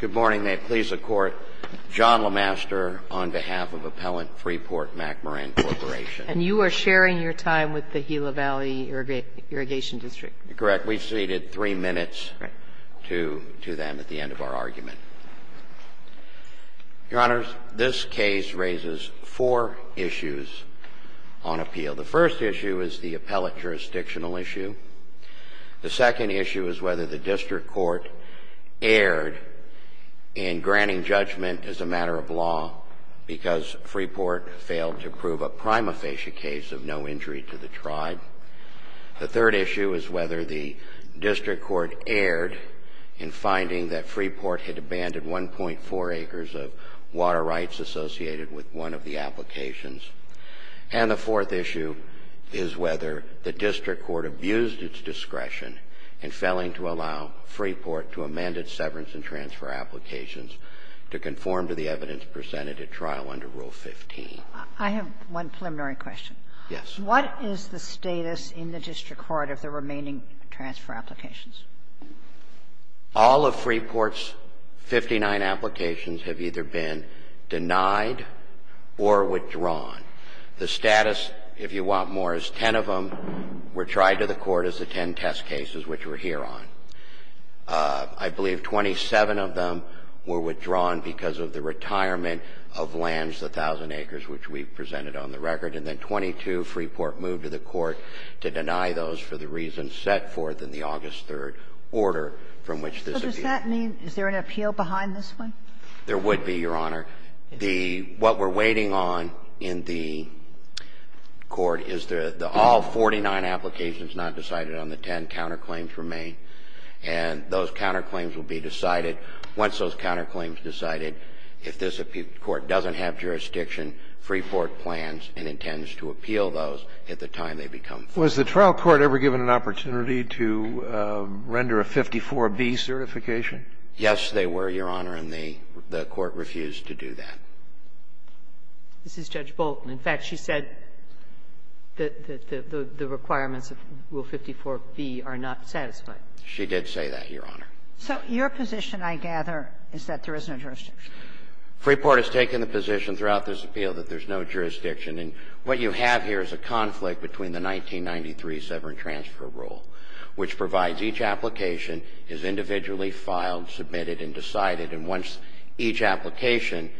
Good morning. May it please the Court, John LeMaster on behalf of Appellant Freeport-McMoran Corporation. And you are sharing your time with the Gila Valley Irrigation District? Correct. We ceded three minutes to them at the end of our argument. Your Honors, this case raises four issues on appeal. The first issue is the appellate jurisdictional issue. The second issue is whether the district court erred in granting judgment as a matter of law because Freeport failed to prove a prima facie case of no injury to the tribe. The third issue is whether the district court erred in finding that Freeport had abandoned 1.4 acres of water rights associated with one of the applications. And the fourth issue is whether the district court abused its discretion in failing to allow Freeport to amend its severance and transfer applications to conform to the evidence presented at trial under Rule 15. I have one preliminary question. Yes. What is the status in the district court of the remaining transfer applications? All of Freeport's 59 applications have either been denied or withdrawn. The status, if you want more, is ten of them were tried to the court as the ten test cases which we're here on. I believe 27 of them were withdrawn because of the retirement of lands, the 1,000 acres which we presented on the record, and then 22 Freeport moved to the court to deny those for the reasons set forth in the August 3rd order from which this appeal was made. So does that mean is there an appeal behind this one? There would be, Your Honor. The what we're waiting on in the court is the all 49 applications not decided on the ten counterclaims remain. And those counterclaims will be decided once those counterclaims are decided. If this court doesn't have jurisdiction, Freeport plans and intends to appeal those at the time they become full. Was the trial court ever given an opportunity to render a 54B certification? Yes, they were, Your Honor, and the court refused to do that. This is Judge Bolton. In fact, she said that the requirements of Rule 54B are not satisfied. She did say that, Your Honor. So your position, I gather, is that there is no jurisdiction. Freeport has taken the position throughout this appeal that there's no jurisdiction. And what you have here is a conflict between the 1993 Severance Transfer Rule, which provides each application is individually filed, submitted, and decided. And once each application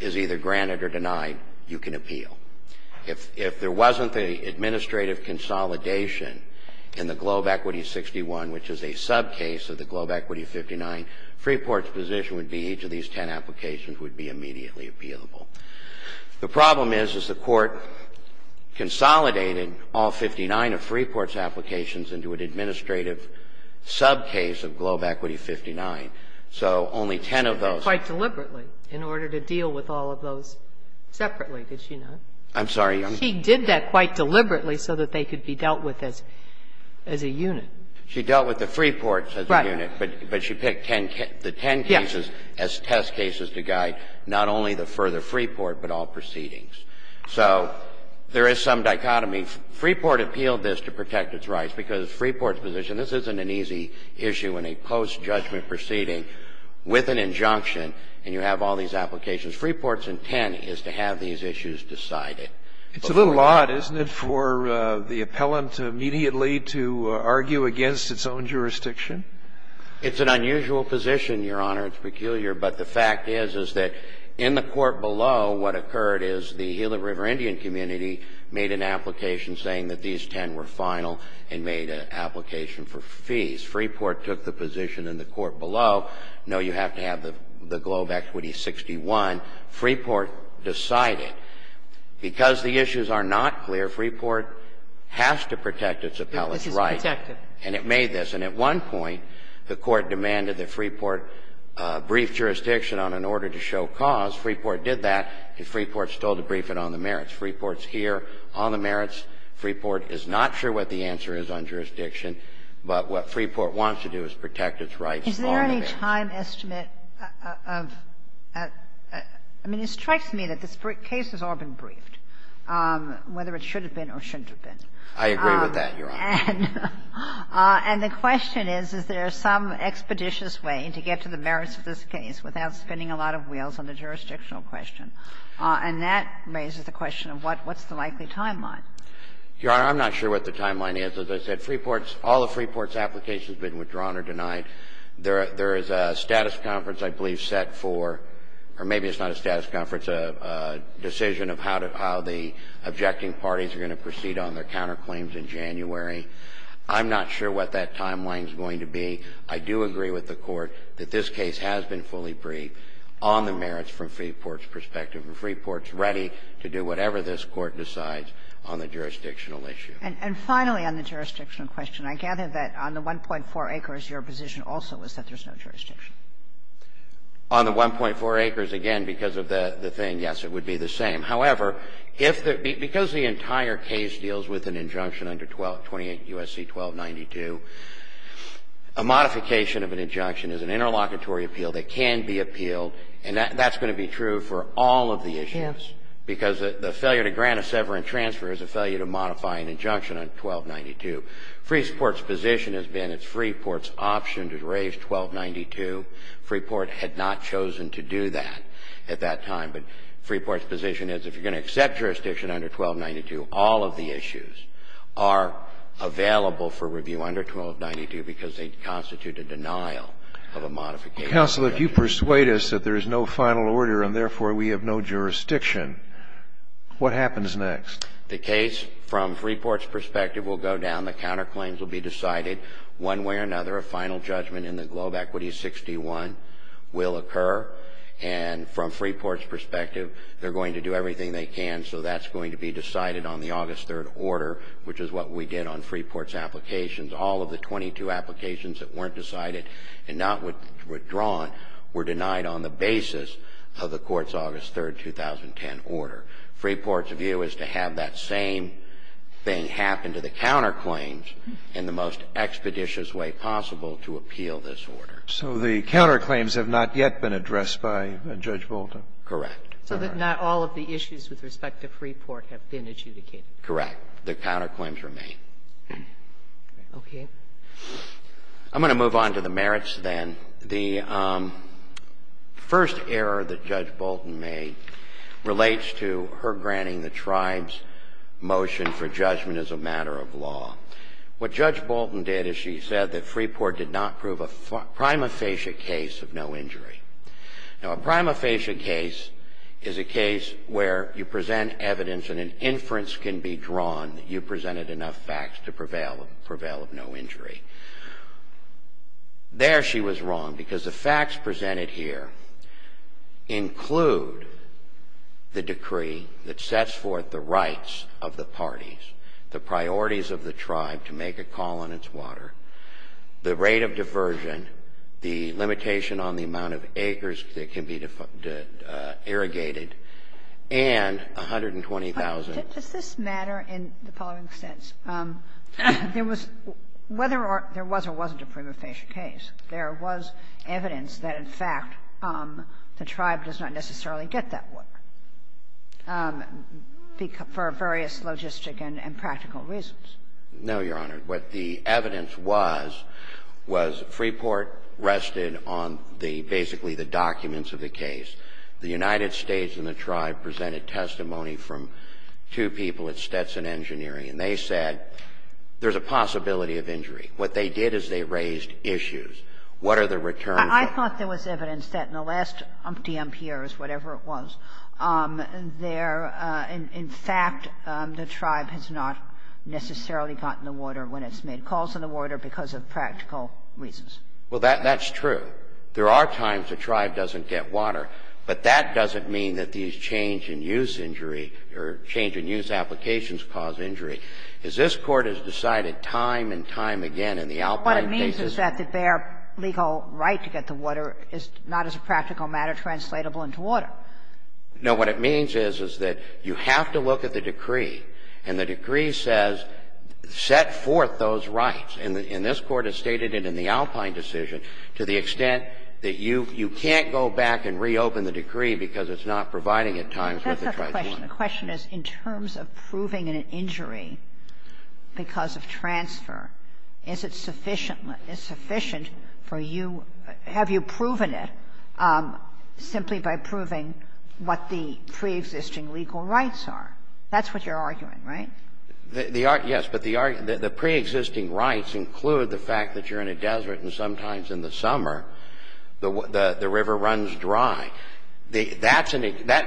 is either granted or denied, you can appeal. If there wasn't the administrative consolidation in the Globe Equity 61, which is a subcase of the Globe Equity 59, Freeport's position would be each of these ten applications would be immediately appealable. The problem is, is the court consolidated all 59 of Freeport's applications into an administrative subcase of Globe Equity 59. So only ten of those. But quite deliberately, in order to deal with all of those separately, did she not? I'm sorry, Your Honor. She did that quite deliberately so that they could be dealt with as a unit. She dealt with the Freeports as a unit, but she picked the ten cases as test cases to guide not only the further Freeport, but all proceedings. So there is some dichotomy. Freeport appealed this to protect its rights because Freeport's position, this isn't an easy issue in a post-judgment proceeding with an injunction, and you have all these applications. Freeport's intent is to have these issues decided. It's a little odd, isn't it, for the appellant immediately to argue against its own jurisdiction? It's an unusual position, Your Honor. It's peculiar. But the fact is, is that in the court below, what occurred is the Gila River Indian community made an application saying that these ten were final and made an application for fees. Freeport took the position in the court below, no, you have to have the Globe Equity 61. Freeport decided because the issues are not clear, Freeport has to protect its appellant's right. And it made this. And at one point, the Court demanded that Freeport brief jurisdiction on an order to show cause. Freeport did that, and Freeport's told to brief it on the merits. Freeport's here on the merits. Freeport is not sure what the answer is on jurisdiction, but what Freeport wants to do is protect its rights on the merits. Kagan. I mean, it strikes me that this case has all been briefed, whether it should have been or shouldn't have been. I agree with that, Your Honor. And the question is, is there some expeditious way to get to the merits of this case without spinning a lot of wheels on the jurisdictional question? And that raises the question of what's the likely timeline. Your Honor, I'm not sure what the timeline is. As I said, Freeport's, all of Freeport's applications have been withdrawn or denied. There is a status conference, I believe, set for, or maybe it's not a status conference, a decision of how the objecting parties are going to proceed on their counterclaims in January. I'm not sure what that timeline is going to be. I do agree with the Court that this case has been fully briefed on the merits from Freeport's perspective, and Freeport's ready to do whatever this Court decides on the jurisdictional issue. And finally, on the jurisdictional question, I gather that on the 1.4 acres, your position also is that there's no jurisdiction. On the 1.4 acres, again, because of the thing, yes, it would be the same. However, if the – because the entire case deals with an injunction under 28 U.S.C. 1292, a modification of an injunction is an interlocutory appeal that can be appealed, and that's going to be true for all of the issues. Because the failure to grant a severance transfer is a failure to modify an injunction on 1292. Freeport's position has been it's Freeport's option to raise 1292. Freeport had not chosen to do that at that time. But Freeport's position is if you're going to accept jurisdiction under 1292, all of the issues are available for review under 1292 because they constitute a denial of a modification of an injunction. Scalia. Counsel, if you persuade us that there is no final order and, therefore, we have no jurisdiction, what happens next? The case, from Freeport's perspective, will go down. The counterclaims will be decided one way or another. A final judgment in the Globe Equity 61 will occur. And from Freeport's perspective, they're going to do everything they can. So that's going to be decided on the August 3rd order, which is what we did on Freeport's applications. All of the 22 applications that weren't decided and not withdrawn were denied on the basis of the Court's August 3rd, 2010 order. Freeport's view is to have that same thing happen to the counterclaims in the most expeditious way possible to appeal this order. So the counterclaims have not yet been addressed by Judge Bolton? Correct. So that not all of the issues with respect to Freeport have been adjudicated? Correct. The counterclaims remain. Okay. I'm going to move on to the merits, then. The first error that Judge Bolton made relates to her granting the tribe's motion for judgment as a matter of law. What Judge Bolton did is she said that Freeport did not prove a prima facie case of no injury. Now, a prima facie case is a case where you present evidence and an inference can be drawn that you presented enough facts to prevail of no injury. There she was wrong because the facts presented here include the decree that sets forth the rights of the parties, the priorities of the tribe to make a call on its water, the rate of diversion, the limitation on the amount of acres that can be irrigated, and 120,000. Does this matter in the following sense? There was or wasn't a prima facie case. There was evidence that, in fact, the tribe does not necessarily get that water for various logistic and practical reasons. No, Your Honor. What the evidence was, was Freeport rested on the basically the documents of the case. The United States and the tribe presented testimony from two people at Stetson Engineering, and they said there's a possibility of injury. What they did is they raised issues. What are the returns? I thought there was evidence that in the last umpty umpty years, whatever it was, there, in fact, the tribe has not necessarily gotten the water when it's made calls on the water because of practical reasons. Well, that's true. There are times the tribe doesn't get water, but that doesn't mean that these change in use injury or change in use applications cause injury. Is this Court has decided time and time again in the Alpine case that their legal right to get the water is not as a practical matter translatable into water. No. What it means is, is that you have to look at the decree, and the decree says set forth those rights. And this Court has stated it in the Alpine decision to the extent that you can't go back and reopen the decree because it's not providing at times what the tribe wants. The question is, in terms of proving an injury because of transfer, is it sufficient for you, have you proven it simply by proving what the preexisting legal rights are? That's what you're arguing, right? Yes, but the preexisting rights include the fact that you're in a desert, and sometimes in the summer, the river runs dry. That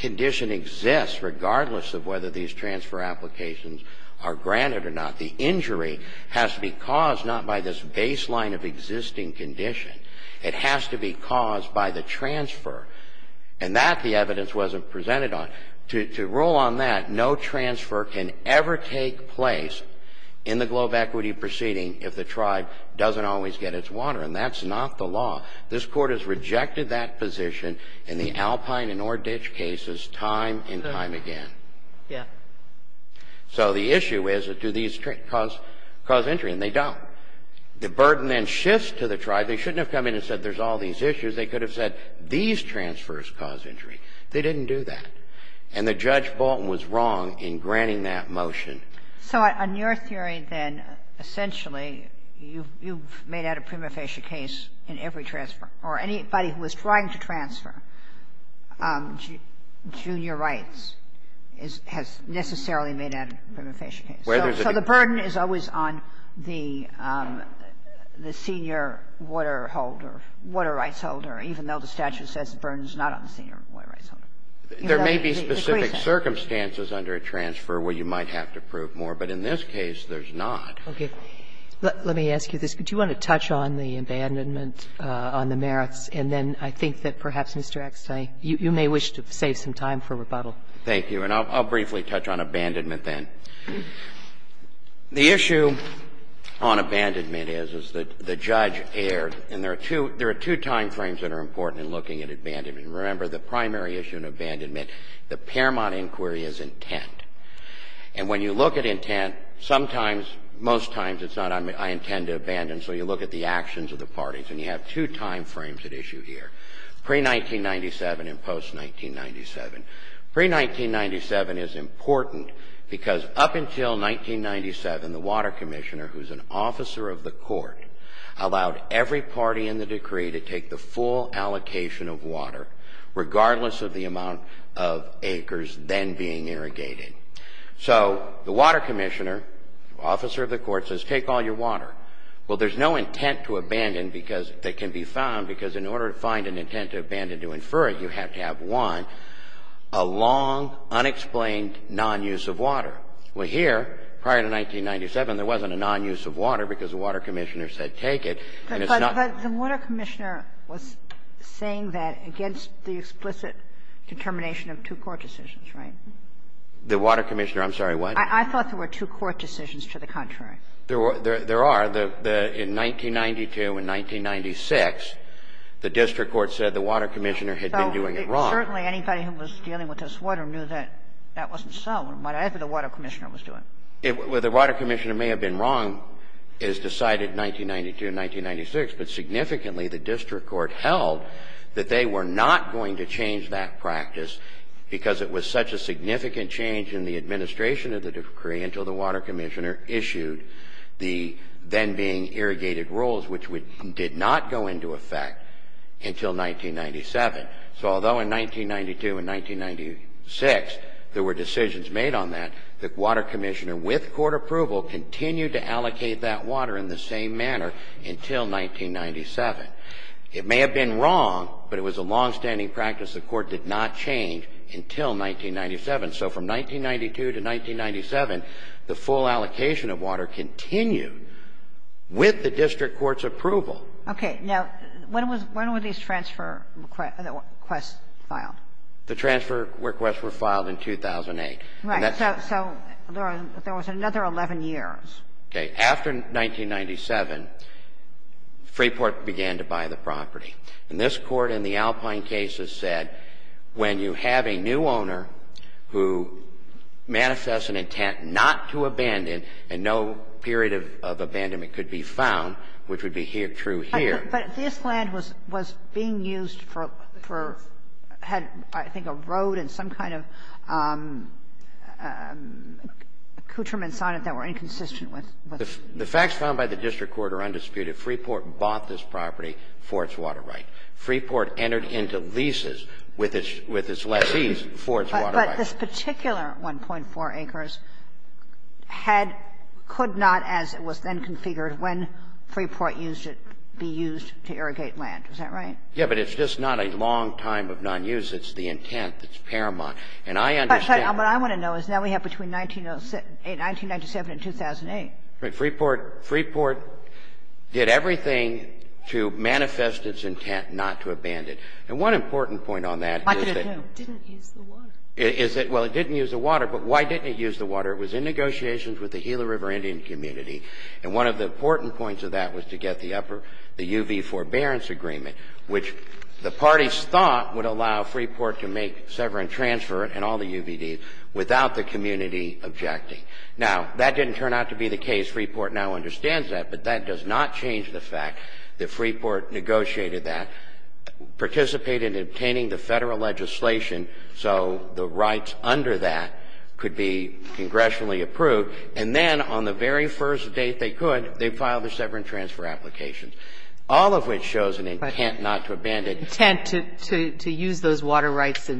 condition exists regardless of whether these transfer applications are granted or not. The injury has to be caused not by this baseline of existing condition. It has to be caused by the transfer. And that the evidence wasn't presented on. To rule on that, no transfer can ever take place in the globe equity proceeding if the tribe doesn't always get its water, and that's not the law. This Court has rejected that position in the Alpine and Oreditch cases time and time again. Yeah. So the issue is, do these cause injury? And they don't. The burden then shifts to the tribe. They shouldn't have come in and said, there's all these issues. They could have said, these transfers cause injury. They didn't do that. And the Judge Bolton was wrong in granting that motion. So on your theory, then, essentially, you've made out a prima facie case in every transfer, or anybody who is trying to transfer junior rights has necessarily made out a prima facie case. So the burden is always on the senior water holder, water rights holder, even though the statute says the burden is not on the senior water rights holder. There may be specific circumstances under a transfer where you might have to prove Okay. Let me ask you this. Do you want to touch on the abandonment on the merits? And then I think that perhaps, Mr. Eckstine, you may wish to save some time for rebuttal. Thank you. And I'll briefly touch on abandonment then. The issue on abandonment is, is that the judge erred. And there are two timeframes that are important in looking at abandonment. Remember, the primary issue in abandonment, the Paramount inquiry, is intent. And when you look at intent, sometimes, most times, it's not, I intend to abandon, so you look at the actions of the parties. And you have two timeframes at issue here. Pre-1997 and post-1997. Pre-1997 is important because up until 1997, the water commissioner, who's an officer of the court, allowed every party in the decree to take the full allocation of water, regardless of the amount of acres then being irrigated. So the water commissioner, officer of the court, says, take all your water. Well, there's no intent to abandon because that can be found, because in order to find an intent to abandon, to infer it, you have to have one, a long, unexplained nonuse of water. Well, here, prior to 1997, there wasn't a nonuse of water because the water commissioner said take it, and it's not. But the water commissioner was saying that against the explicit determination of two court decisions, right? The water commissioner, I'm sorry, what? I thought there were two court decisions to the contrary. There are. In 1992 and 1996, the district court said the water commissioner had been doing it wrong. Certainly, anybody who was dealing with this water knew that that wasn't so, whatever the water commissioner was doing. The water commissioner may have been wrong as decided in 1992 and 1996, but significantly, the district court held that they were not going to change that practice because it was such a significant change in the administration of the decree until the water commissioner issued the then being irrigated rules, which did not go into effect until 1997. So although in 1992 and 1996, there were decisions made on that, the water commissioner, with court approval, continued to allocate that water in the same manner until 1997. It may have been wrong, but it was a longstanding practice. The court did not change until 1997. So from 1992 to 1997, the full allocation of water continued with the district court's approval. Okay. Now, when were these transfer requests filed? The transfer requests were filed in 2008. Right. So there was another 11 years. Okay. After 1997, Freeport began to buy the property. And this Court in the Alpine cases said, when you have a new owner who manifests an intent not to abandon and no period of abandonment could be found, which would be true here. But this land was being used for, had, I think, a road and some kind of, I don't know, a couturemen sonnet that were inconsistent with the facts found by the district court are undisputed. Freeport bought this property for its water right. Freeport entered into leases with its lessees for its water right. But this particular 1.4 acres had, could not, as it was then configured when Freeport used it, be used to irrigate land. Is that right? Yeah. But it's just not a long time of nonuse. It's the intent that's paramount. And I understand. What I want to know is now we have between 1907 and 2008. Freeport, Freeport did everything to manifest its intent not to abandon. And one important point on that is that it didn't use the water. But why didn't it use the water? It was in negotiations with the Gila River Indian community. And one of the important points of that was to get the upper, the UV forbearance agreement, which the parties thought would allow Freeport to make severance transfer and all the UVDs without the community objecting. Now, that didn't turn out to be the case. Freeport now understands that. But that does not change the fact that Freeport negotiated that, participated in obtaining the Federal legislation so the rights under that could be congressionally approved. And then on the very first date they could, they filed the severance transfer applications, all of which shows an intent not to abandon. And that's not to say that Freeport didn't have the intent to use those water rights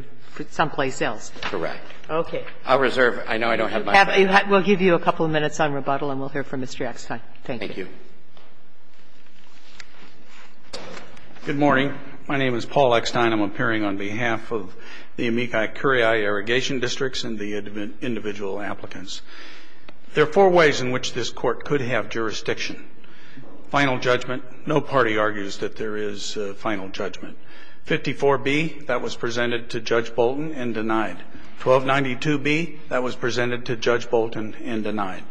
someplace else. Correct. Okay. I'll reserve. I know I don't have my time. We'll give you a couple of minutes on rebuttal and we'll hear from Mr. Eckstein. Thank you. Thank you. Good morning. My name is Paul Eckstein. I'm appearing on behalf of the Amici-Curiai Irrigation Districts and the individual applicants. There are four ways in which this Court could have jurisdiction. Final judgment, no party argues that there is final judgment. 54B, that was presented to Judge Bolton and denied. 1292B, that was presented to Judge Bolton and denied.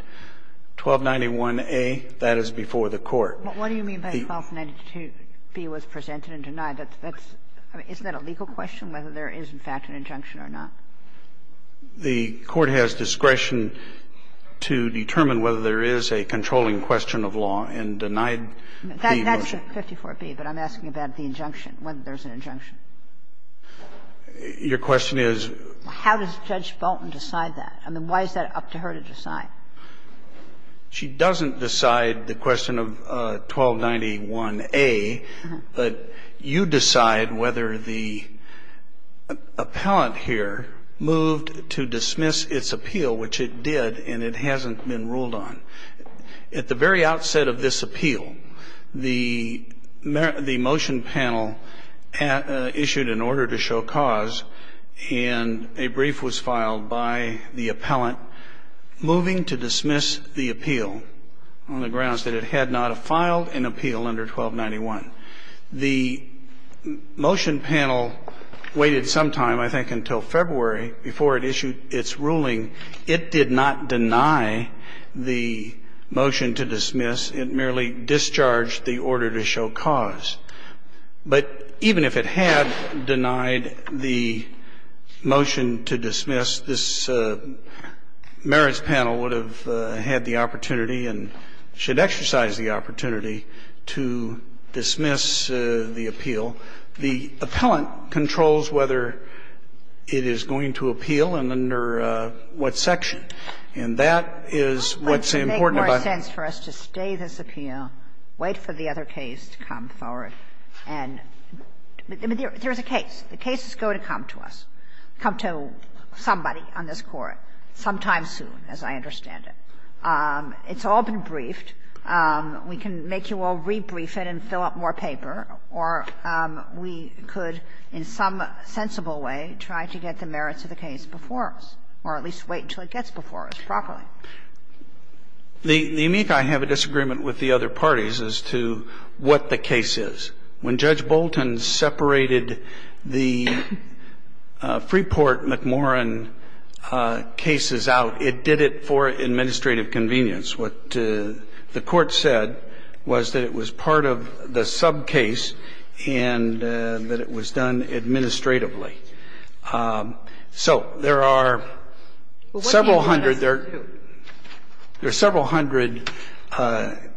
1291A, that is before the Court. What do you mean by 1292B was presented and denied? That's, that's, I mean, isn't that a legal question, whether there is in fact an injunction or not? The Court has discretion to determine whether there is a controlling question of law and denied the motion. That's 54B, but I'm asking about the injunction, whether there's an injunction. Your question is? How does Judge Bolton decide that? I mean, why is that up to her to decide? She doesn't decide the question of 1291A, but you decide whether the appellant here moved to dismiss its appeal, which it did and it hasn't been ruled on. At the very outset of this appeal, the motion panel issued an order to show cause and a brief was filed by the appellant moving to dismiss the appeal on the grounds that it had not filed an appeal under 1291. The motion panel waited some time, I think until February, before it issued its ruling. It did not deny the motion to dismiss. It merely discharged the order to show cause. But even if it had denied the motion to dismiss, this merits panel would have had the opportunity and should exercise the opportunity to dismiss the appeal. The appellant controls whether it is going to appeal and under what section. And that is what's important about it. Kagan. I think it would make more sense for us to stay this appeal, wait for the other case to come forward. And there is a case. The cases go to come to us, come to somebody on this Court sometime soon, as I understand it. It's all been briefed. We can make you all rebrief it and fill out more paper, or we could in some sensible way try to get the merits of the case before us, or at least wait until it gets before us properly. The amici have a disagreement with the other parties as to what the case is. When Judge Bolton separated the Freeport-McMorrin cases out, it did it for administrative convenience. What the Court said was that it was part of the sub-case and that it was done administratively. So there are several hundred. There are several hundred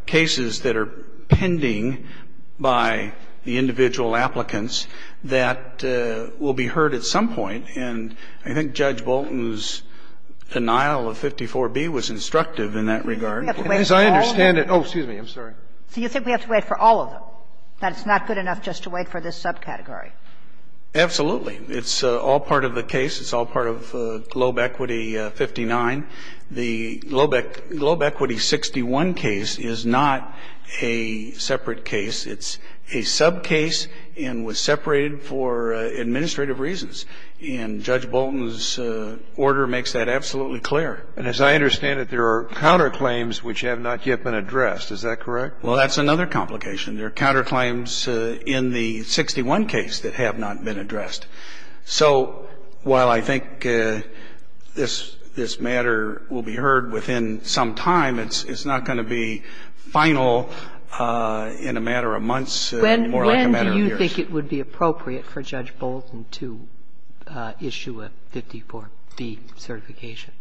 cases that are pending by the individual applicants that will be heard at some point. And I think Judge Bolton's denial of 54B was instructive in that regard. And as I understand it, oh, excuse me, I'm sorry. So you think we have to wait for all of them? That it's not good enough just to wait for this subcategory? Absolutely. It's all part of the case. It's all part of Globe Equity 59. The Globe Equity 61 case is not a separate case. It's a sub-case and was separated for administrative reasons. And Judge Bolton's order makes that absolutely clear. And as I understand it, there are counterclaims which have not yet been addressed. Is that correct? Well, that's another complication. There are counterclaims in the 61 case that have not been addressed. So while I think this matter will be heard within some time, it's not going to be final in a matter of months, more like a matter of years. When do you think it would be appropriate for Judge Bolton to issue a 54B certification?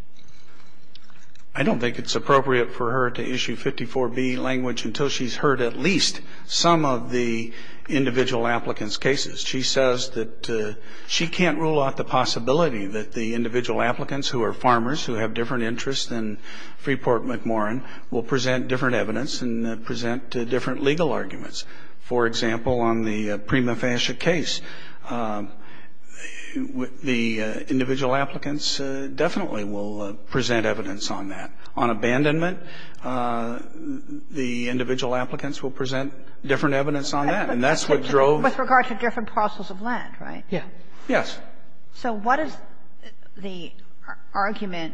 I don't think it's appropriate for her to issue 54B language until she's heard at least some of the individual applicants' cases. She says that she can't rule out the possibility that the individual applicants who are farmers, who have different interests than Freeport McMorrin, will present different evidence and present different legal arguments. For example, on the Prima Fascia case, the individual applicants definitely will present evidence on that. On abandonment, the individual applicants will present different evidence on that. And that's what drove the case. With regard to different parcels of land, right? Yeah. Yes. So what is the argument,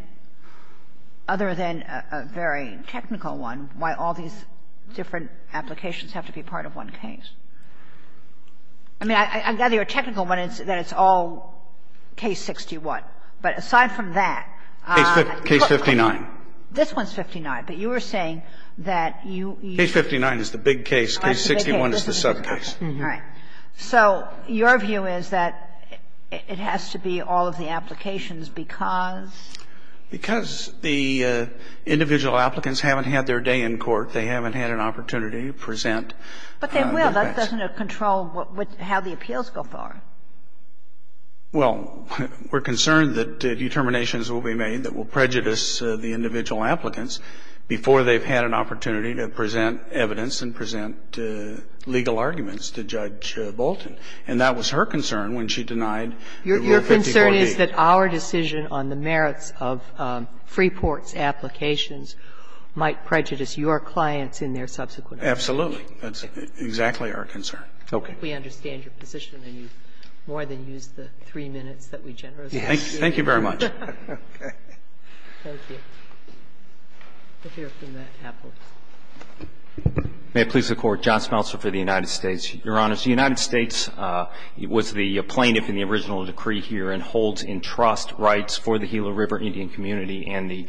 other than a very technical one, why all these different applications have to be part of one case? I mean, I gather your technical one is that it's all Case 61. But aside from that, this one's 59. But you are saying that you use the big case. Case 59 is the big case. Case 61 is the sub case. All right. So your view is that it has to be all of the applications because? Because the individual applicants haven't had their day in court. They haven't had an opportunity to present the facts. But they will. That doesn't control how the appeals go forward. Well, we're concerned that determinations will be made that will prejudice the individual applicants before they've had an opportunity to present evidence and present legal arguments to Judge Bolton. And that was her concern when she denied Rule 54b. Your concern is that our decision on the merits of Freeport's applications might prejudice your clients in their subsequent application. Absolutely. That's exactly our concern. Okay. We understand your position, and you've more than used the three minutes that we generously gave you. Yes. Thank you very much. Okay. Thank you. We'll hear from Matt Apples. May it please the Court. John Smeltzer for the United States. Your Honors, the United States was the plaintiff in the original decree here and holds in trust rights for the Gila River Indian community and the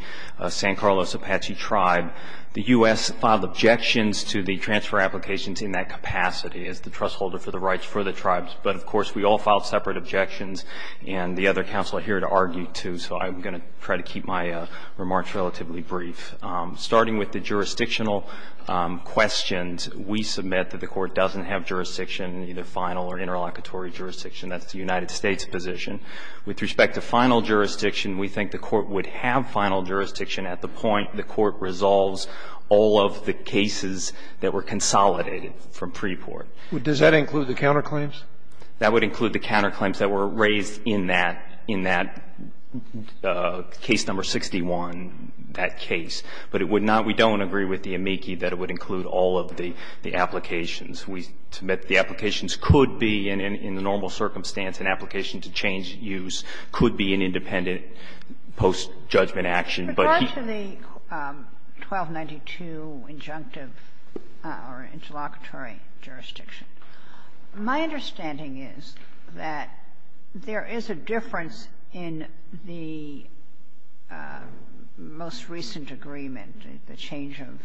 San Carlos Apache tribe. The U.S. filed objections to the transfer applications in that capacity as the trust holder for the rights for the tribes. But, of course, we all filed separate objections, and the other counsel are here to argue, too, so I'm going to try to keep my remarks relatively brief. Starting with the jurisdictional questions, we submit that the Court doesn't have jurisdiction, either final or interlocutory jurisdiction. That's the United States' position. With respect to final jurisdiction, we think the Court would have final jurisdiction at the point the Court resolves all of the cases that were consolidated from pre-court. Does that include the counterclaims? That would include the counterclaims that were raised in that, in that case number 61, that case. But it would not we don't agree with the amici that it would include all of the applications. We submit the applications could be in the normal circumstance. An application to change use could be an independent post-judgment action. But he can't. Ginsburg. With regard to the 1292 injunctive or interlocutory jurisdiction, my understanding is that there is a difference in the most recent agreement, the change of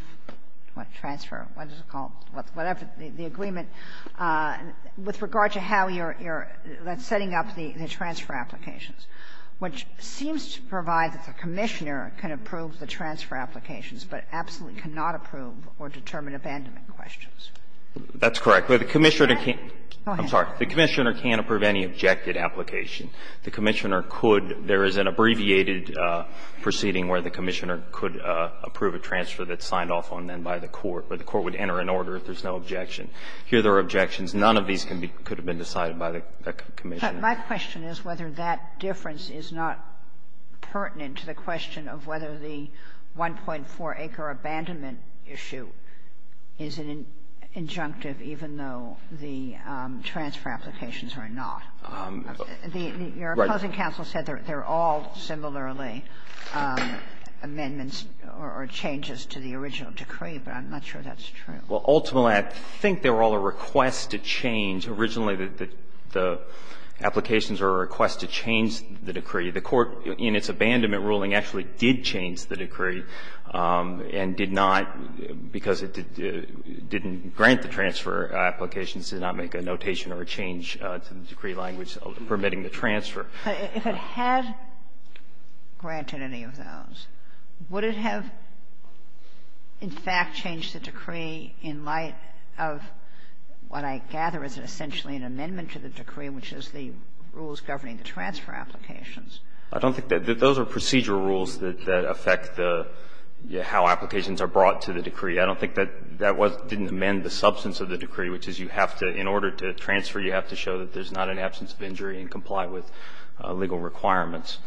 what transfer or whatever the agreement, with regard to how you're setting up the transfer applications, which seems to provide that the Commissioner can approve the transfer applications but absolutely cannot approve or determine abandonment questions. That's correct. But the Commissioner can't approve any objected application. The Commissioner could. There is an abbreviated proceeding where the Commissioner could approve a transfer that's signed off on then by the court, where the court would enter an order if there's no objection. Here there are objections. None of these could have been decided by the Commissioner. My question is whether that difference is not pertinent to the question of whether the 1.4 acre abandonment issue is an injunctive, even though the transfer applications are not. Your opposing counsel said they're all similarly amendments or changes to the original decree, but I'm not sure that's true. Well, ultimately, I think they were all a request to change. Originally, the applications were a request to change the decree. The Court, in its abandonment ruling, actually did change the decree and did not, because it didn't grant the transfer applications, did not make a notation or a change to the decree language permitting the transfer. If it had granted any of those, would it have, in fact, changed the decree in light of what I gather is essentially an amendment to the decree, which is the rules governing the transfer applications? I don't think that those are procedural rules that affect the how applications are brought to the decree. I don't think that that didn't amend the substance of the decree, which is you have to, in order to transfer, you have to show that there's not an absence of injury and comply with legal requirements.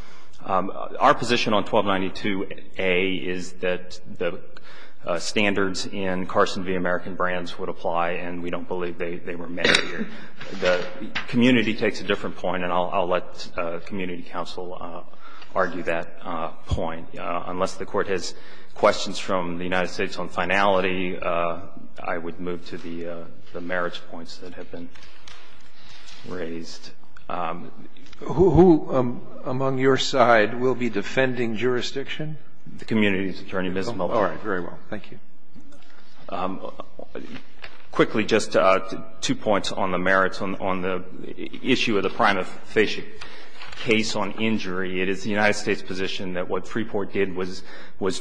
Our position on 1292a is that the standards in Carson v. American Brands would apply, and we don't believe they were met here. The community takes a different point, and I'll let community counsel argue that point. Unless the Court has questions from the United States on finality, I would move to the merits points that have been raised. Who among your side will be defending jurisdiction? The community's attorney, Ms. Melton. All right. Very well. Thank you. Quickly, just two points on the merits. On the issue of the prima facie case on injury, it is the United States' position that what Freeport did was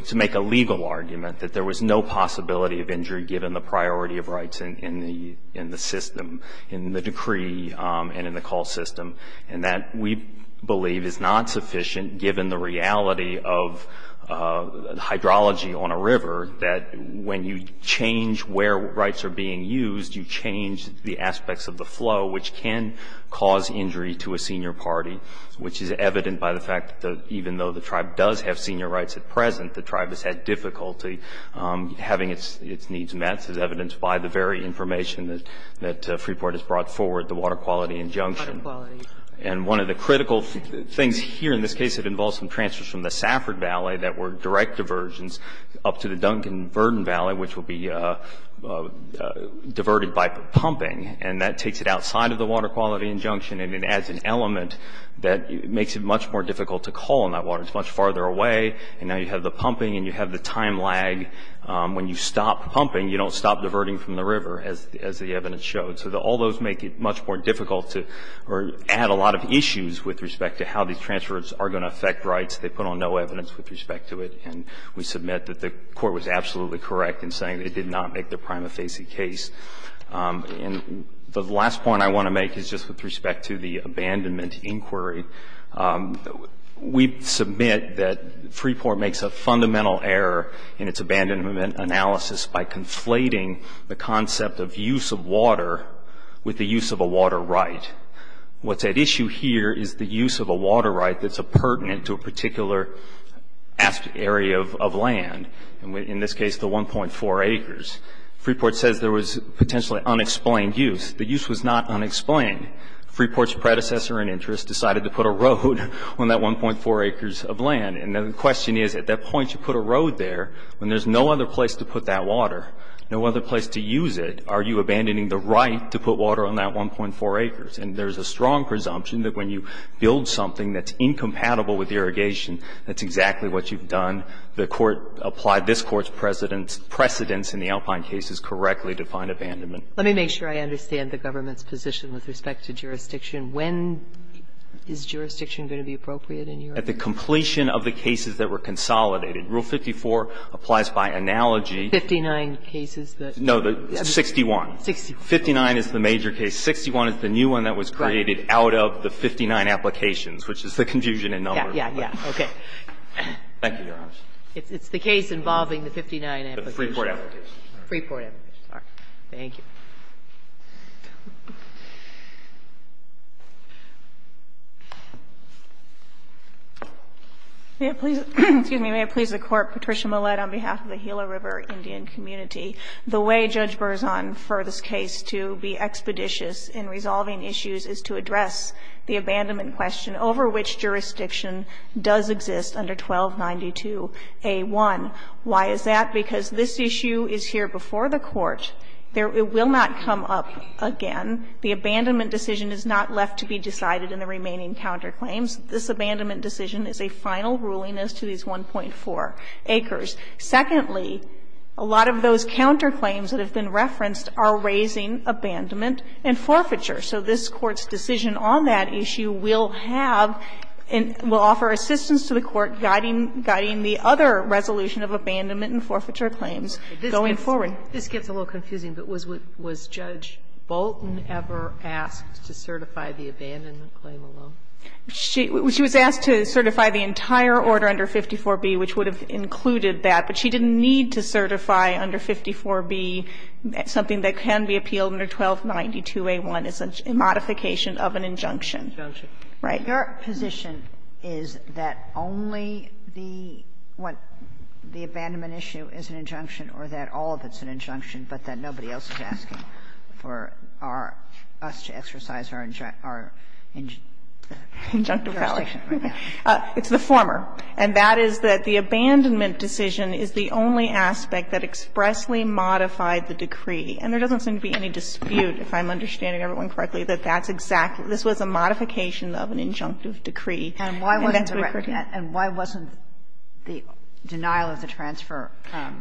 to make a legal argument that there was no possibility of injury, given the priority of rights in the system, in the decree and in the call system, and that we believe is not sufficient, given the reality of hydrology on a river, that when you change where rights are being used, you change the aspects of the flow, which can cause injury to a senior party, which is evident by the fact that even though the tribe does have senior rights at present, the tribe has had difficulty having its needs met, as evidenced by the very information that Freeport has brought forward, the water quality injunction. And one of the critical things here in this case that involves some transfers from the Safford Valley that were direct diversions up to the Duncan-Verdon Valley, which will be diverted by pumping, and that takes it outside of the water quality injunction, and it adds an element that makes it much more difficult to call, and that water is much farther away, and now you have the pumping and you have the time lag, when you stop pumping, you don't stop diverting from the river, as the evidence showed. So all those make it much more difficult to add a lot of issues with respect to how these transfers are going to affect rights. They put on no evidence with respect to it, and we submit that the Court was absolutely correct in saying it did not make the prima facie case. And the last point I want to make is just with respect to the abandonment inquiry. We submit that Freeport makes a fundamental error in its abandonment analysis by conflating the concept of use of water with the use of a water right. What's at issue here is the use of a water right that's a pertinent to a particular area of land, in this case the 1.4 acres. Freeport says there was potentially unexplained use. The use was not unexplained. Freeport's predecessor in interest decided to put a road on that 1.4 acres of land. And the question is, at that point you put a road there, when there's no other place to put that water, no other place to use it, are you abandoning the right to put water on that 1.4 acres? And there's a strong presumption that when you build something that's incompatible with irrigation, that's exactly what you've done. The Court applied this Court's precedence in the Alpine cases correctly to find abandonment. Let me make sure I understand the government's position with respect to jurisdiction. When is jurisdiction going to be appropriate in your opinion? At the completion of the cases that were consolidated. Rule 54 applies by analogy. 59 cases that? No, the 61. 59 is the major case. 61 is the new one that was created out of the 59 applications, which is the confusion in numbers. Yeah, yeah, yeah. Okay. Thank you, Your Honor. It's the case involving the 59 applications. The Freeport application. Freeport application. All right. Thank you. May it please the Court, Patricia Millett, on behalf of the Gila River Indian community. The way Judge Berzon, for this case to be expeditious in resolving issues, is to address the abandonment question over which jurisdiction does exist under 1292a1. Why is that? Because this issue is here before the Court. It will not come up again. The abandonment decision is not left to be decided in the remaining counterclaims. This abandonment decision is a final ruling as to these 1.4 acres. Secondly, a lot of those counterclaims that have been referenced are raising abandonment and forfeiture. So this Court's decision on that issue will have and will offer assistance to the Court guiding the other resolution of abandonment and forfeiture claims going forward. This gets a little confusing, but was Judge Bolton ever asked to certify the abandonment claim alone? She was asked to certify the entire order under 54b, which would have included that, but she didn't need to certify under 54b something that can be appealed under 1292a1 as a modification of an injunction. Injunction. Right. Your position is that only the abandonment issue is an injunction or that all of it's an injunction, but that nobody else is asking for our ‑‑ us to exercise our injunction. It's the former. And that is that the abandonment decision is the only aspect that expressly modified the decree. And there doesn't seem to be any dispute, if I'm understanding everyone correctly, that that's exactly ‑‑ this was a modification of an injunctive decree. And that's what occurred here. And why wasn't the denial of the transfer ‑‑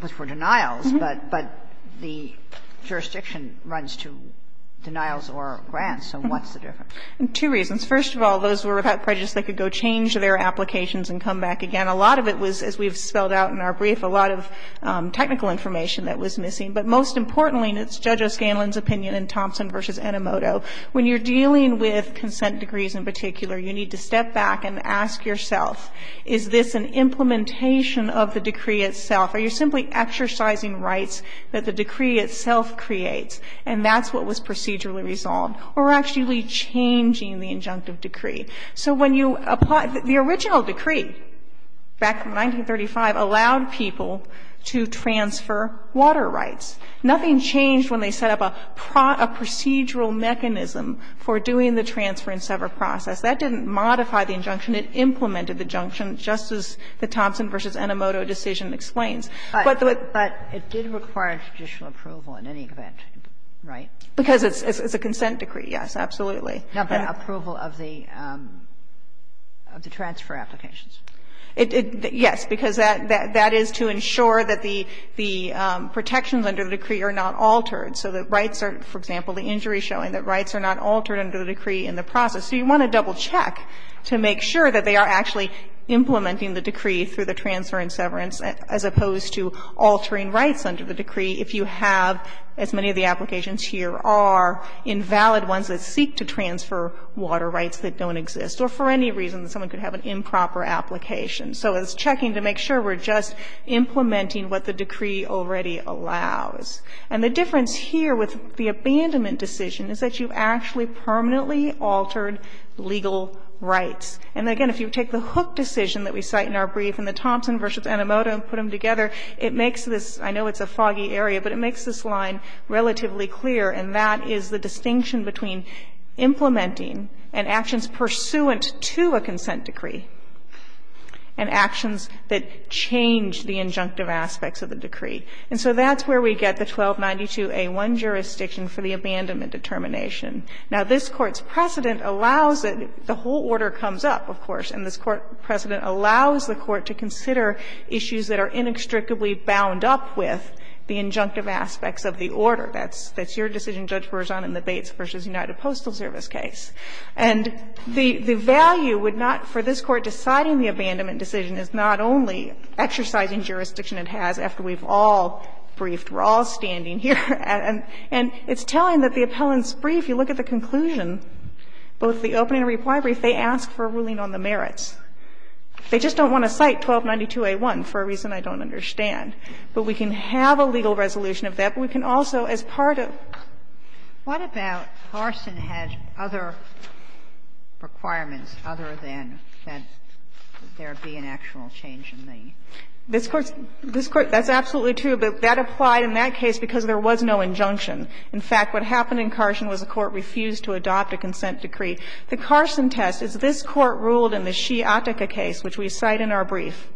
which were denials, but the jurisdiction runs to denials or grants, so what's the difference? Two reasons. First of all, those were about prejudice that could go change their applications and come back again. A lot of it was, as we've spelled out in our brief, a lot of technical information that was missing. But most importantly, and it's Judge O'Scanlan's opinion in Thompson v. Enomoto, when you're dealing with consent decrees in particular, you need to step back and ask yourself, is this an implementation of the decree itself? Are you simply exercising rights that the decree itself creates? And that's what was procedurally resolved. Or actually changing the injunctive decree. So when you apply ‑‑ the original decree back in 1935 allowed people to transfer water rights. Nothing changed when they set up a procedural mechanism for doing the transfer and sever process. That didn't modify the injunction. It implemented the injunction, just as the Thompson v. Enomoto decision explains. But the ‑‑ But it did require a judicial approval in any event, right? Because it's a consent decree, yes, absolutely. No, but approval of the transfer applications. Yes, because that is to ensure that the protections under the decree are not altered. So the rights are, for example, the injury showing that rights are not altered under the decree in the process. So you want to double check to make sure that they are actually implementing the decree through the transfer and severance, as opposed to altering rights under the decree if you have, as many of the applications here are, invalid ones that seek to transfer water rights that don't exist, or for any reason that someone could have an improper application. So it's checking to make sure we're just implementing what the decree already allows. And the difference here with the abandonment decision is that you actually permanently altered legal rights. And, again, if you take the Hook decision that we cite in our brief and the Thompson v. Enomoto and put them together, it makes this ‑‑ I know it's a foggy area, but it makes this line relatively clear. And that is the distinction between implementing and actions pursuant to a consent decree and actions that change the injunctive aspects of the decree. And so that's where we get the 1292a1 jurisdiction for the abandonment determination. Now, this Court's precedent allows it ‑‑ the whole order comes up, of course, and this Court precedent allows the Court to consider issues that are inextricably bound up with the injunctive aspects of the order. That's your decision, Judge Berzon, in the Bates v. United Postal Service case. And the value would not, for this Court deciding the abandonment decision is not only exercising jurisdiction it has after we've all briefed, we're all standing here, and it's telling that the appellant's brief, you look at the conclusion, both the opening and reply brief, they ask for a ruling on the merits. They just don't want to cite 1292a1 for a reason I don't understand. But we can have a legal resolution of that, but we can also, as part of ‑‑ Kagan. What about Carson had other requirements other than that there be an actual change in the ‑‑ This Court's ‑‑ this Court, that's absolutely true, but that applied in that case because there was no injunction. In fact, what happened in Carson was the Court refused to adopt a consent decree. The Carson test is this Court ruled in the Sheeha-Attica case, which we cite in our brief,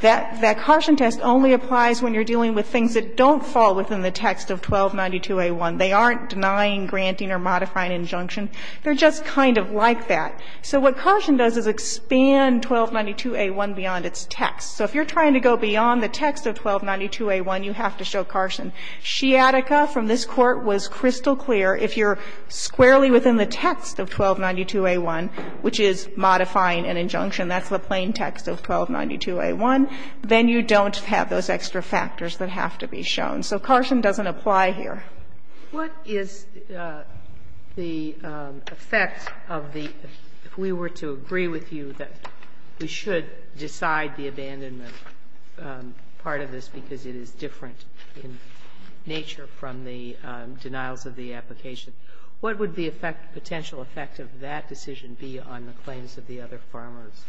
that that Carson test only applies when you're dealing with things that don't fall within the text of 1292a1. They aren't denying, granting, or modifying injunction. They're just kind of like that. So what Carson does is expand 1292a1 beyond its text. So if you're trying to go beyond the text of 1292a1, you have to show Carson. Sheeha-Attica from this Court was crystal clear. If you're squarely within the text of 1292a1, which is modifying an injunction, that's the plain text of 1292a1, then you don't have those extra factors that have to be shown. So Carson doesn't apply here. Sotomayor, what is the effect of the ‑‑ if we were to agree with you that we should decide the abandonment part of this because it is different in nature from the denials of the application, what would the potential effect of that decision be on the claims of the other farmers?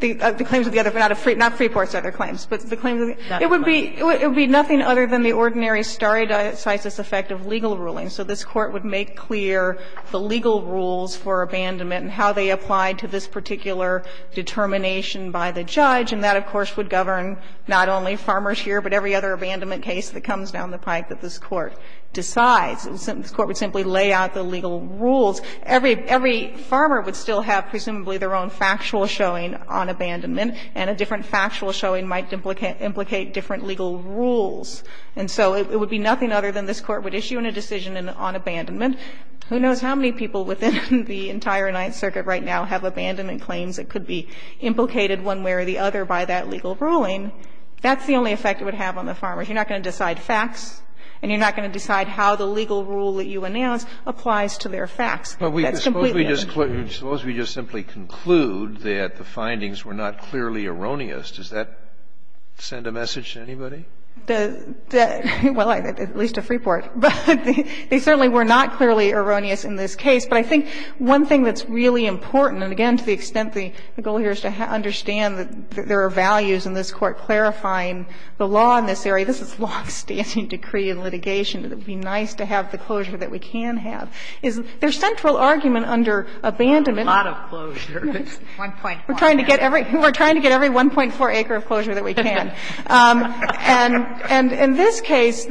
The claims of the other, not Freeport's other claims, but the claims of the other farmers? It would be nothing other than the ordinary stare decisis effect of legal ruling. So this Court would make clear the legal rules for abandonment and how they apply to this particular determination by the judge, and that, of course, would govern not only farmers here, but every other abandonment case that comes down the pike that this Court decides. This Court would simply lay out the legal rules. Every farmer would still have presumably their own factual showing on abandonment, and a different factual showing might implicate different legal rules. And so it would be nothing other than this Court would issue in a decision on abandonment. Who knows how many people within the entire Ninth Circuit right now have abandonment claims that could be implicated one way or the other by that legal ruling. That's the only effect it would have on the farmers. You're not going to decide facts, and you're not going to decide how the legal rule that you announce applies to their facts. That's completely different. Scalia, suppose we just simply conclude that the findings were not clearly erroneous. Does that send a message to anybody? Well, at least to Freeport. But they certainly were not clearly erroneous in this case. But I think one thing that's really important, and again, to the extent the goal here is to understand that there are values in this Court clarifying the law in this area. This is longstanding decree in litigation. It would be nice to have the closure that we can have. There's central argument under abandonment. A lot of closures. We're trying to get every 1.4 acre of closure that we can. And in this case,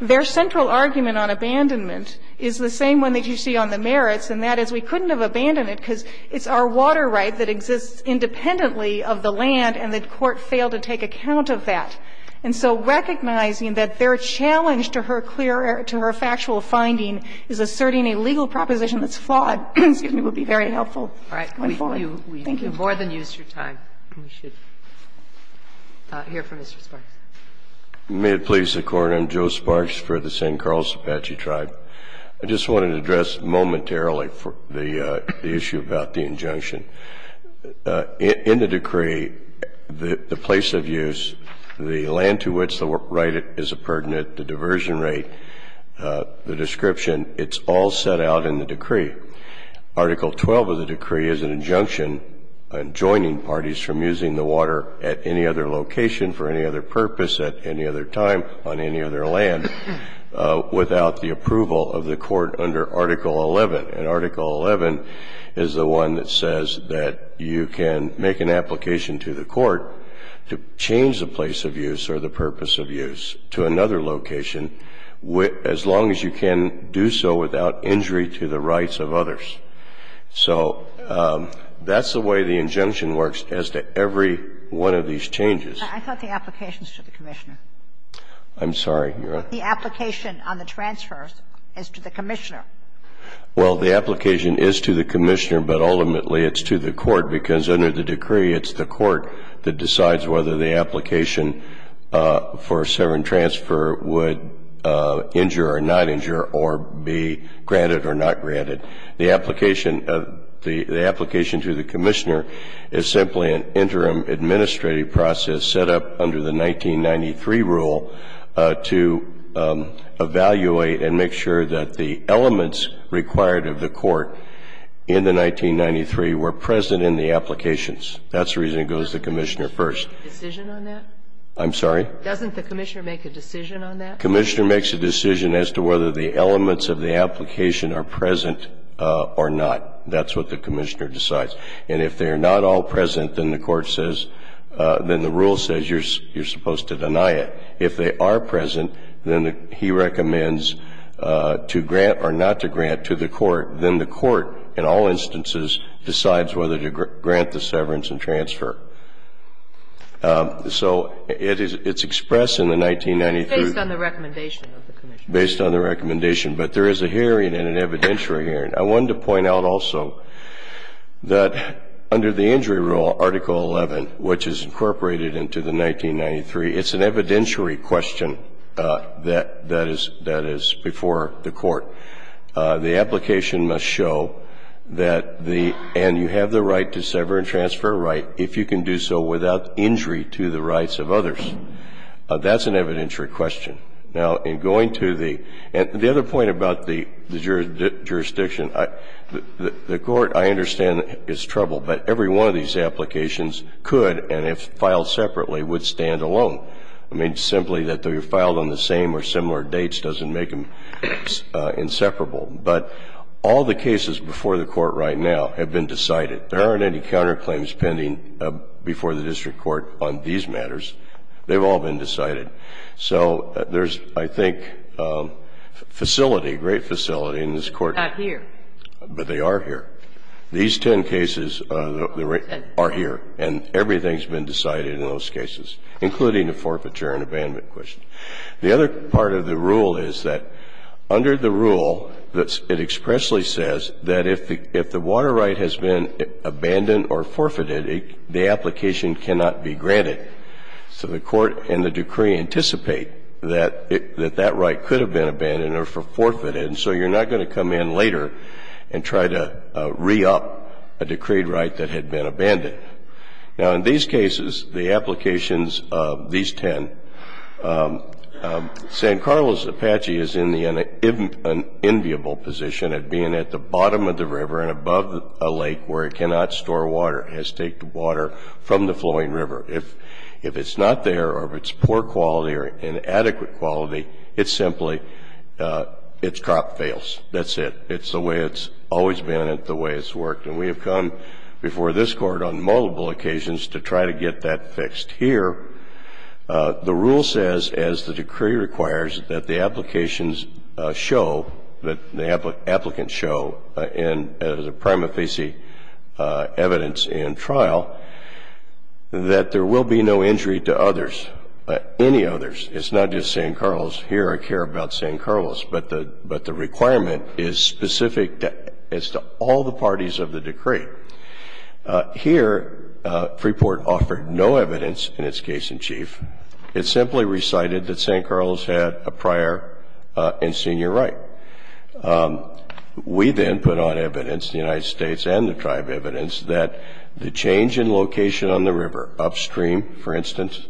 their central argument on abandonment is the same one that you see on the merits, and that is we couldn't have abandoned it because it's our water right that exists independently of the land, and the Court failed to take account of that, and so recognizing that their challenge to her factual finding is asserting a legal proposition that's flawed would be very helpful going forward. Thank you. We've more than used your time. We should hear from Mr. Sparks. May it please the Court. I'm Joe Sparks for the San Carlos Apache Tribe. I just wanted to address momentarily the issue about the injunction. In the decree, the place of use, the land to which the right is a pertinent, Article 12 of the decree is an injunction adjoining parties from using the water at any other location for any other purpose at any other time on any other land without the approval of the Court under Article 11. And Article 11 is the one that says that you can make an application to the Court to change the place of use or the purpose of use to another location as long as you can do so without injury to the rights of others. So that's the way the injunction works as to every one of these changes. I thought the application is to the Commissioner. I'm sorry. The application on the transfers is to the Commissioner. Well, the application is to the Commissioner, but ultimately it's to the Court, because under the decree it's the Court that decides whether the application for a severance transfer would injure or not injure or be granted or not granted. The application to the Commissioner is simply an interim administrative process set up under the 1993 rule to evaluate and make sure that the elements required of the Court in the 1993 were present in the applications. That's the reason it goes to the Commissioner first. Doesn't the Commissioner make a decision on that? I'm sorry? Doesn't the Commissioner make a decision on that? The Commissioner makes a decision as to whether the elements of the application are present or not. That's what the Commissioner decides. And if they are not all present, then the Court says, then the rule says you're supposed to deny it. If they are present, then he recommends to grant or not to grant to the Court. Then the Court in all instances decides whether to grant the severance and transfer. So it's expressed in the 1993. Based on the recommendation of the Commissioner. Based on the recommendation. But there is a hearing and an evidentiary hearing. I wanted to point out also that under the injury rule, Article 11, which is incorporated into the 1993, it's an evidentiary question that is before the Court. The application must show that the and you have the right to sever and transfer your right if you can do so without injury to the rights of others. That's an evidentiary question. Now, in going to the other point about the jurisdiction, the Court, I understand, is troubled. But every one of these applications could, and if filed separately, would stand alone. I mean, simply that they were filed on the same or similar dates doesn't make them inseparable. But all the cases before the Court right now have been decided. There aren't any counterclaims pending before the district court on these matters. They've all been decided. So there's, I think, facility, great facility in this Court. It's not here. But they are here. These ten cases are here, and everything's been decided in those cases, including a forfeiture and abandonment question. The other part of the rule is that under the rule, it expressly says that if the water right has been abandoned or forfeited, the application cannot be granted. So the Court and the decree anticipate that that right could have been abandoned or forfeited. And so you're not going to come in later and try to re-up a decreed right that had been abandoned. Now, in these cases, the applications of these ten, San Carlos Apache is in the enviable position of being at the bottom of the river and above a lake where it cannot store water. It has to take the water from the flowing river. If it's not there or if it's poor quality or inadequate quality, it's simply its crop fails. That's it. It's the way it's always been and the way it's worked. And we have come before this Court on multiple occasions to try to get that fixed. Here, the rule says, as the decree requires, that the applications show, that the applicants show, and as a prima facie evidence in trial, that there will be no injury to others, any others. It's not just San Carlos. Here, I care about San Carlos. But the requirement is specific as to all the parties of the decree. Here, Freeport offered no evidence in its case in chief. It simply recited that San Carlos had a prior and senior right. We then put on evidence, the United States and the tribe evidence, that the change in location on the river upstream, for instance,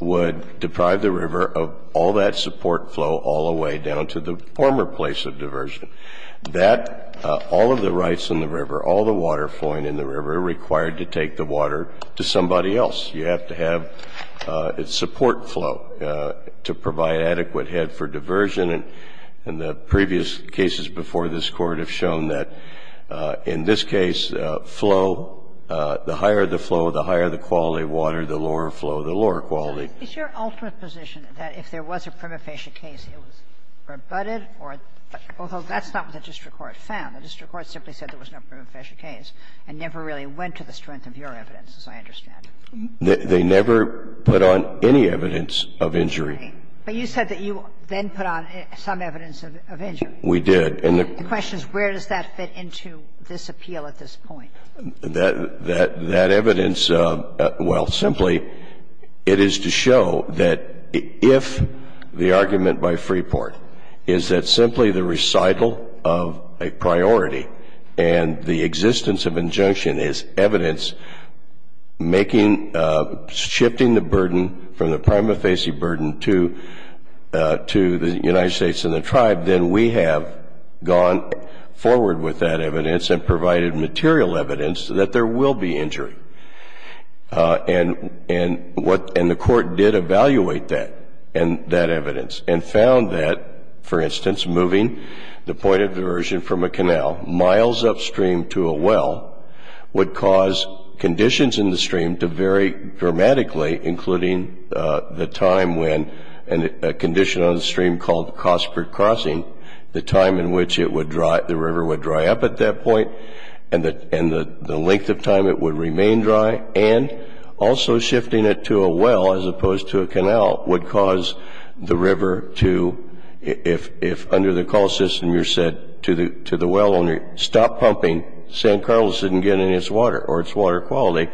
would deprive the river of all that support flow all the way down to the former place of diversion. That, all of the rights in the river, all the water flowing in the river are required to take the water to somebody else. You have to have support flow to provide adequate head for diversion. And the previous cases before this Court have shown that in this case, flow, the higher the flow, the higher the quality of water, the lower flow, the lower quality. It's your ultimate position that if there was a prima facie case, it was rebutted or, although that's not what the district court found, the district court simply said there was no prima facie case and never really went to the strength of your evidence, as I understand. They never put on any evidence of injury. But you said that you then put on some evidence of injury. We did. And the question is, where does that fit into this appeal at this point? That evidence, well, simply, it is to show that if the argument by Freeport is that simply the recital of a priority and the existence of injunction is evidence making, shifting the burden from the prima facie burden to the United States and the tribe, then we have gone forward with that evidence and provided material evidence that there will be injury. And the court did evaluate that evidence and found that, for instance, moving the point of diversion from a canal miles upstream to a well would cause conditions in the stream to vary dramatically, including the time when a condition on the river would occur. And so the court did evaluate that evidence and found that the river would dry up at that point, and the length of time it would remain dry, and also shifting it to a well as opposed to a canal would cause the river to, if under the call system you said to the well owner, stop pumping, San Carlos didn't get any of its water or its water quality,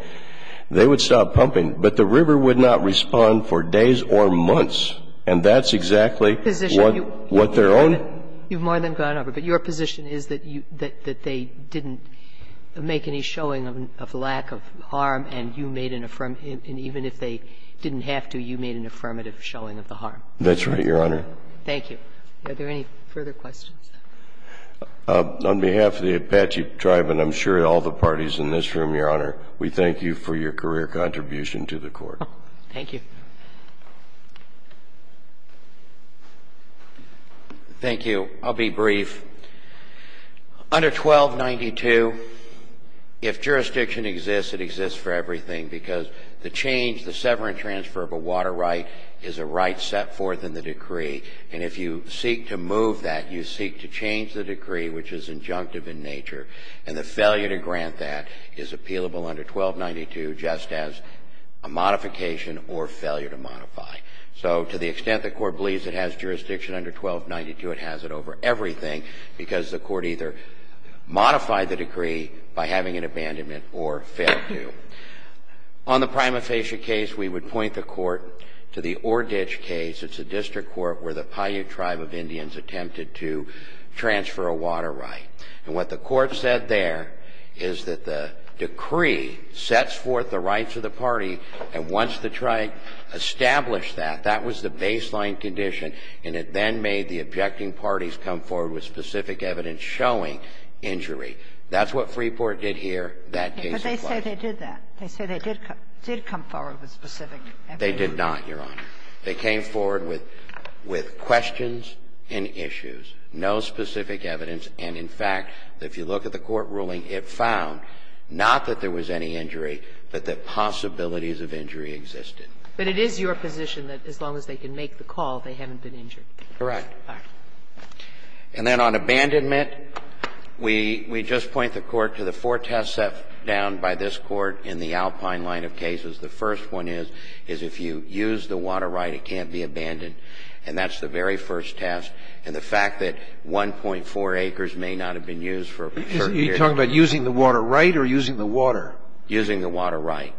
they would stop pumping. But the river would not respond for days or months. And that's exactly what their own. You've more than gone over. But your position is that they didn't make any showing of lack of harm and you made an affirmative, and even if they didn't have to, you made an affirmative showing of the harm. That's right, Your Honor. Thank you. Are there any further questions? On behalf of the Apache tribe and I'm sure all the parties in this room, Your Honor, we thank you for your career contribution to the court. Thank you. Thank you. I'll be brief. Under 1292, if jurisdiction exists, it exists for everything, because the change, the severance transfer of a water right is a right set forth in the decree. And if you seek to move that, you seek to change the decree, which is injunctive in nature, and the failure to grant that is appealable under 1292 just as a modification or failure to modify. So to the extent the court believes it has jurisdiction under 1292, it has it over everything, because the court either modified the decree by having an abandonment or failed to. On the prima facie case, we would point the court to the Ordich case. It's a district court where the Paiute tribe of Indians attempted to transfer a water right. And what the court said there is that the decree sets forth the rights of the party, and once the tribe established that, that was the baseline condition, and it then made the objecting parties come forward with specific evidence showing injury. That's what Freeport did here. That case applies. But they say they did that. They say they did come forward with specific evidence. They did not, Your Honor. They came forward with questions and issues, no specific evidence. And, in fact, if you look at the court ruling, it found not that there was any injury, but that possibilities of injury existed. But it is your position that as long as they can make the call, they haven't been injured. Correct. All right. And then on abandonment, we just point the court to the four tests set down by this court in the Alpine line of cases. The first one is, is if you use the water right, it can't be abandoned. And that's the very first test. And the fact that 1.4 acres may not have been used for a certain period of time. You're talking about using the water right or using the water? Using the water right.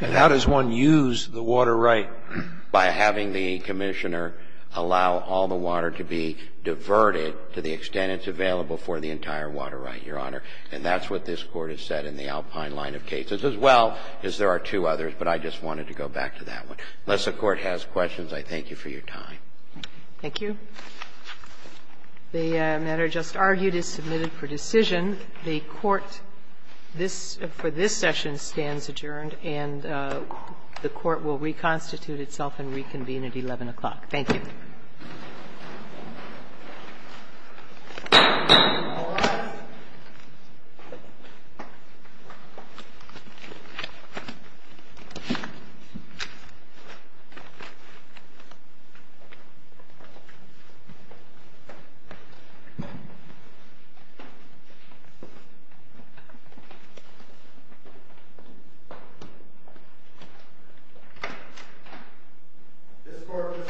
And how does one use the water right? By having the Commissioner allow all the water to be diverted to the extent it's available for the entire water right, Your Honor. And that's what this Court has said in the Alpine line of cases, as well as there are two others, but I just wanted to go back to that one. Unless the Court has questions, I thank you for your time. Thank you. The matter just argued is submitted for decision. The Court, this for this session, stands adjourned, and the Court will reconstitute itself and reconvene at 11 o'clock. Thank you. Thank you. All rise. Thank you. This Court, this session, stands adjourned.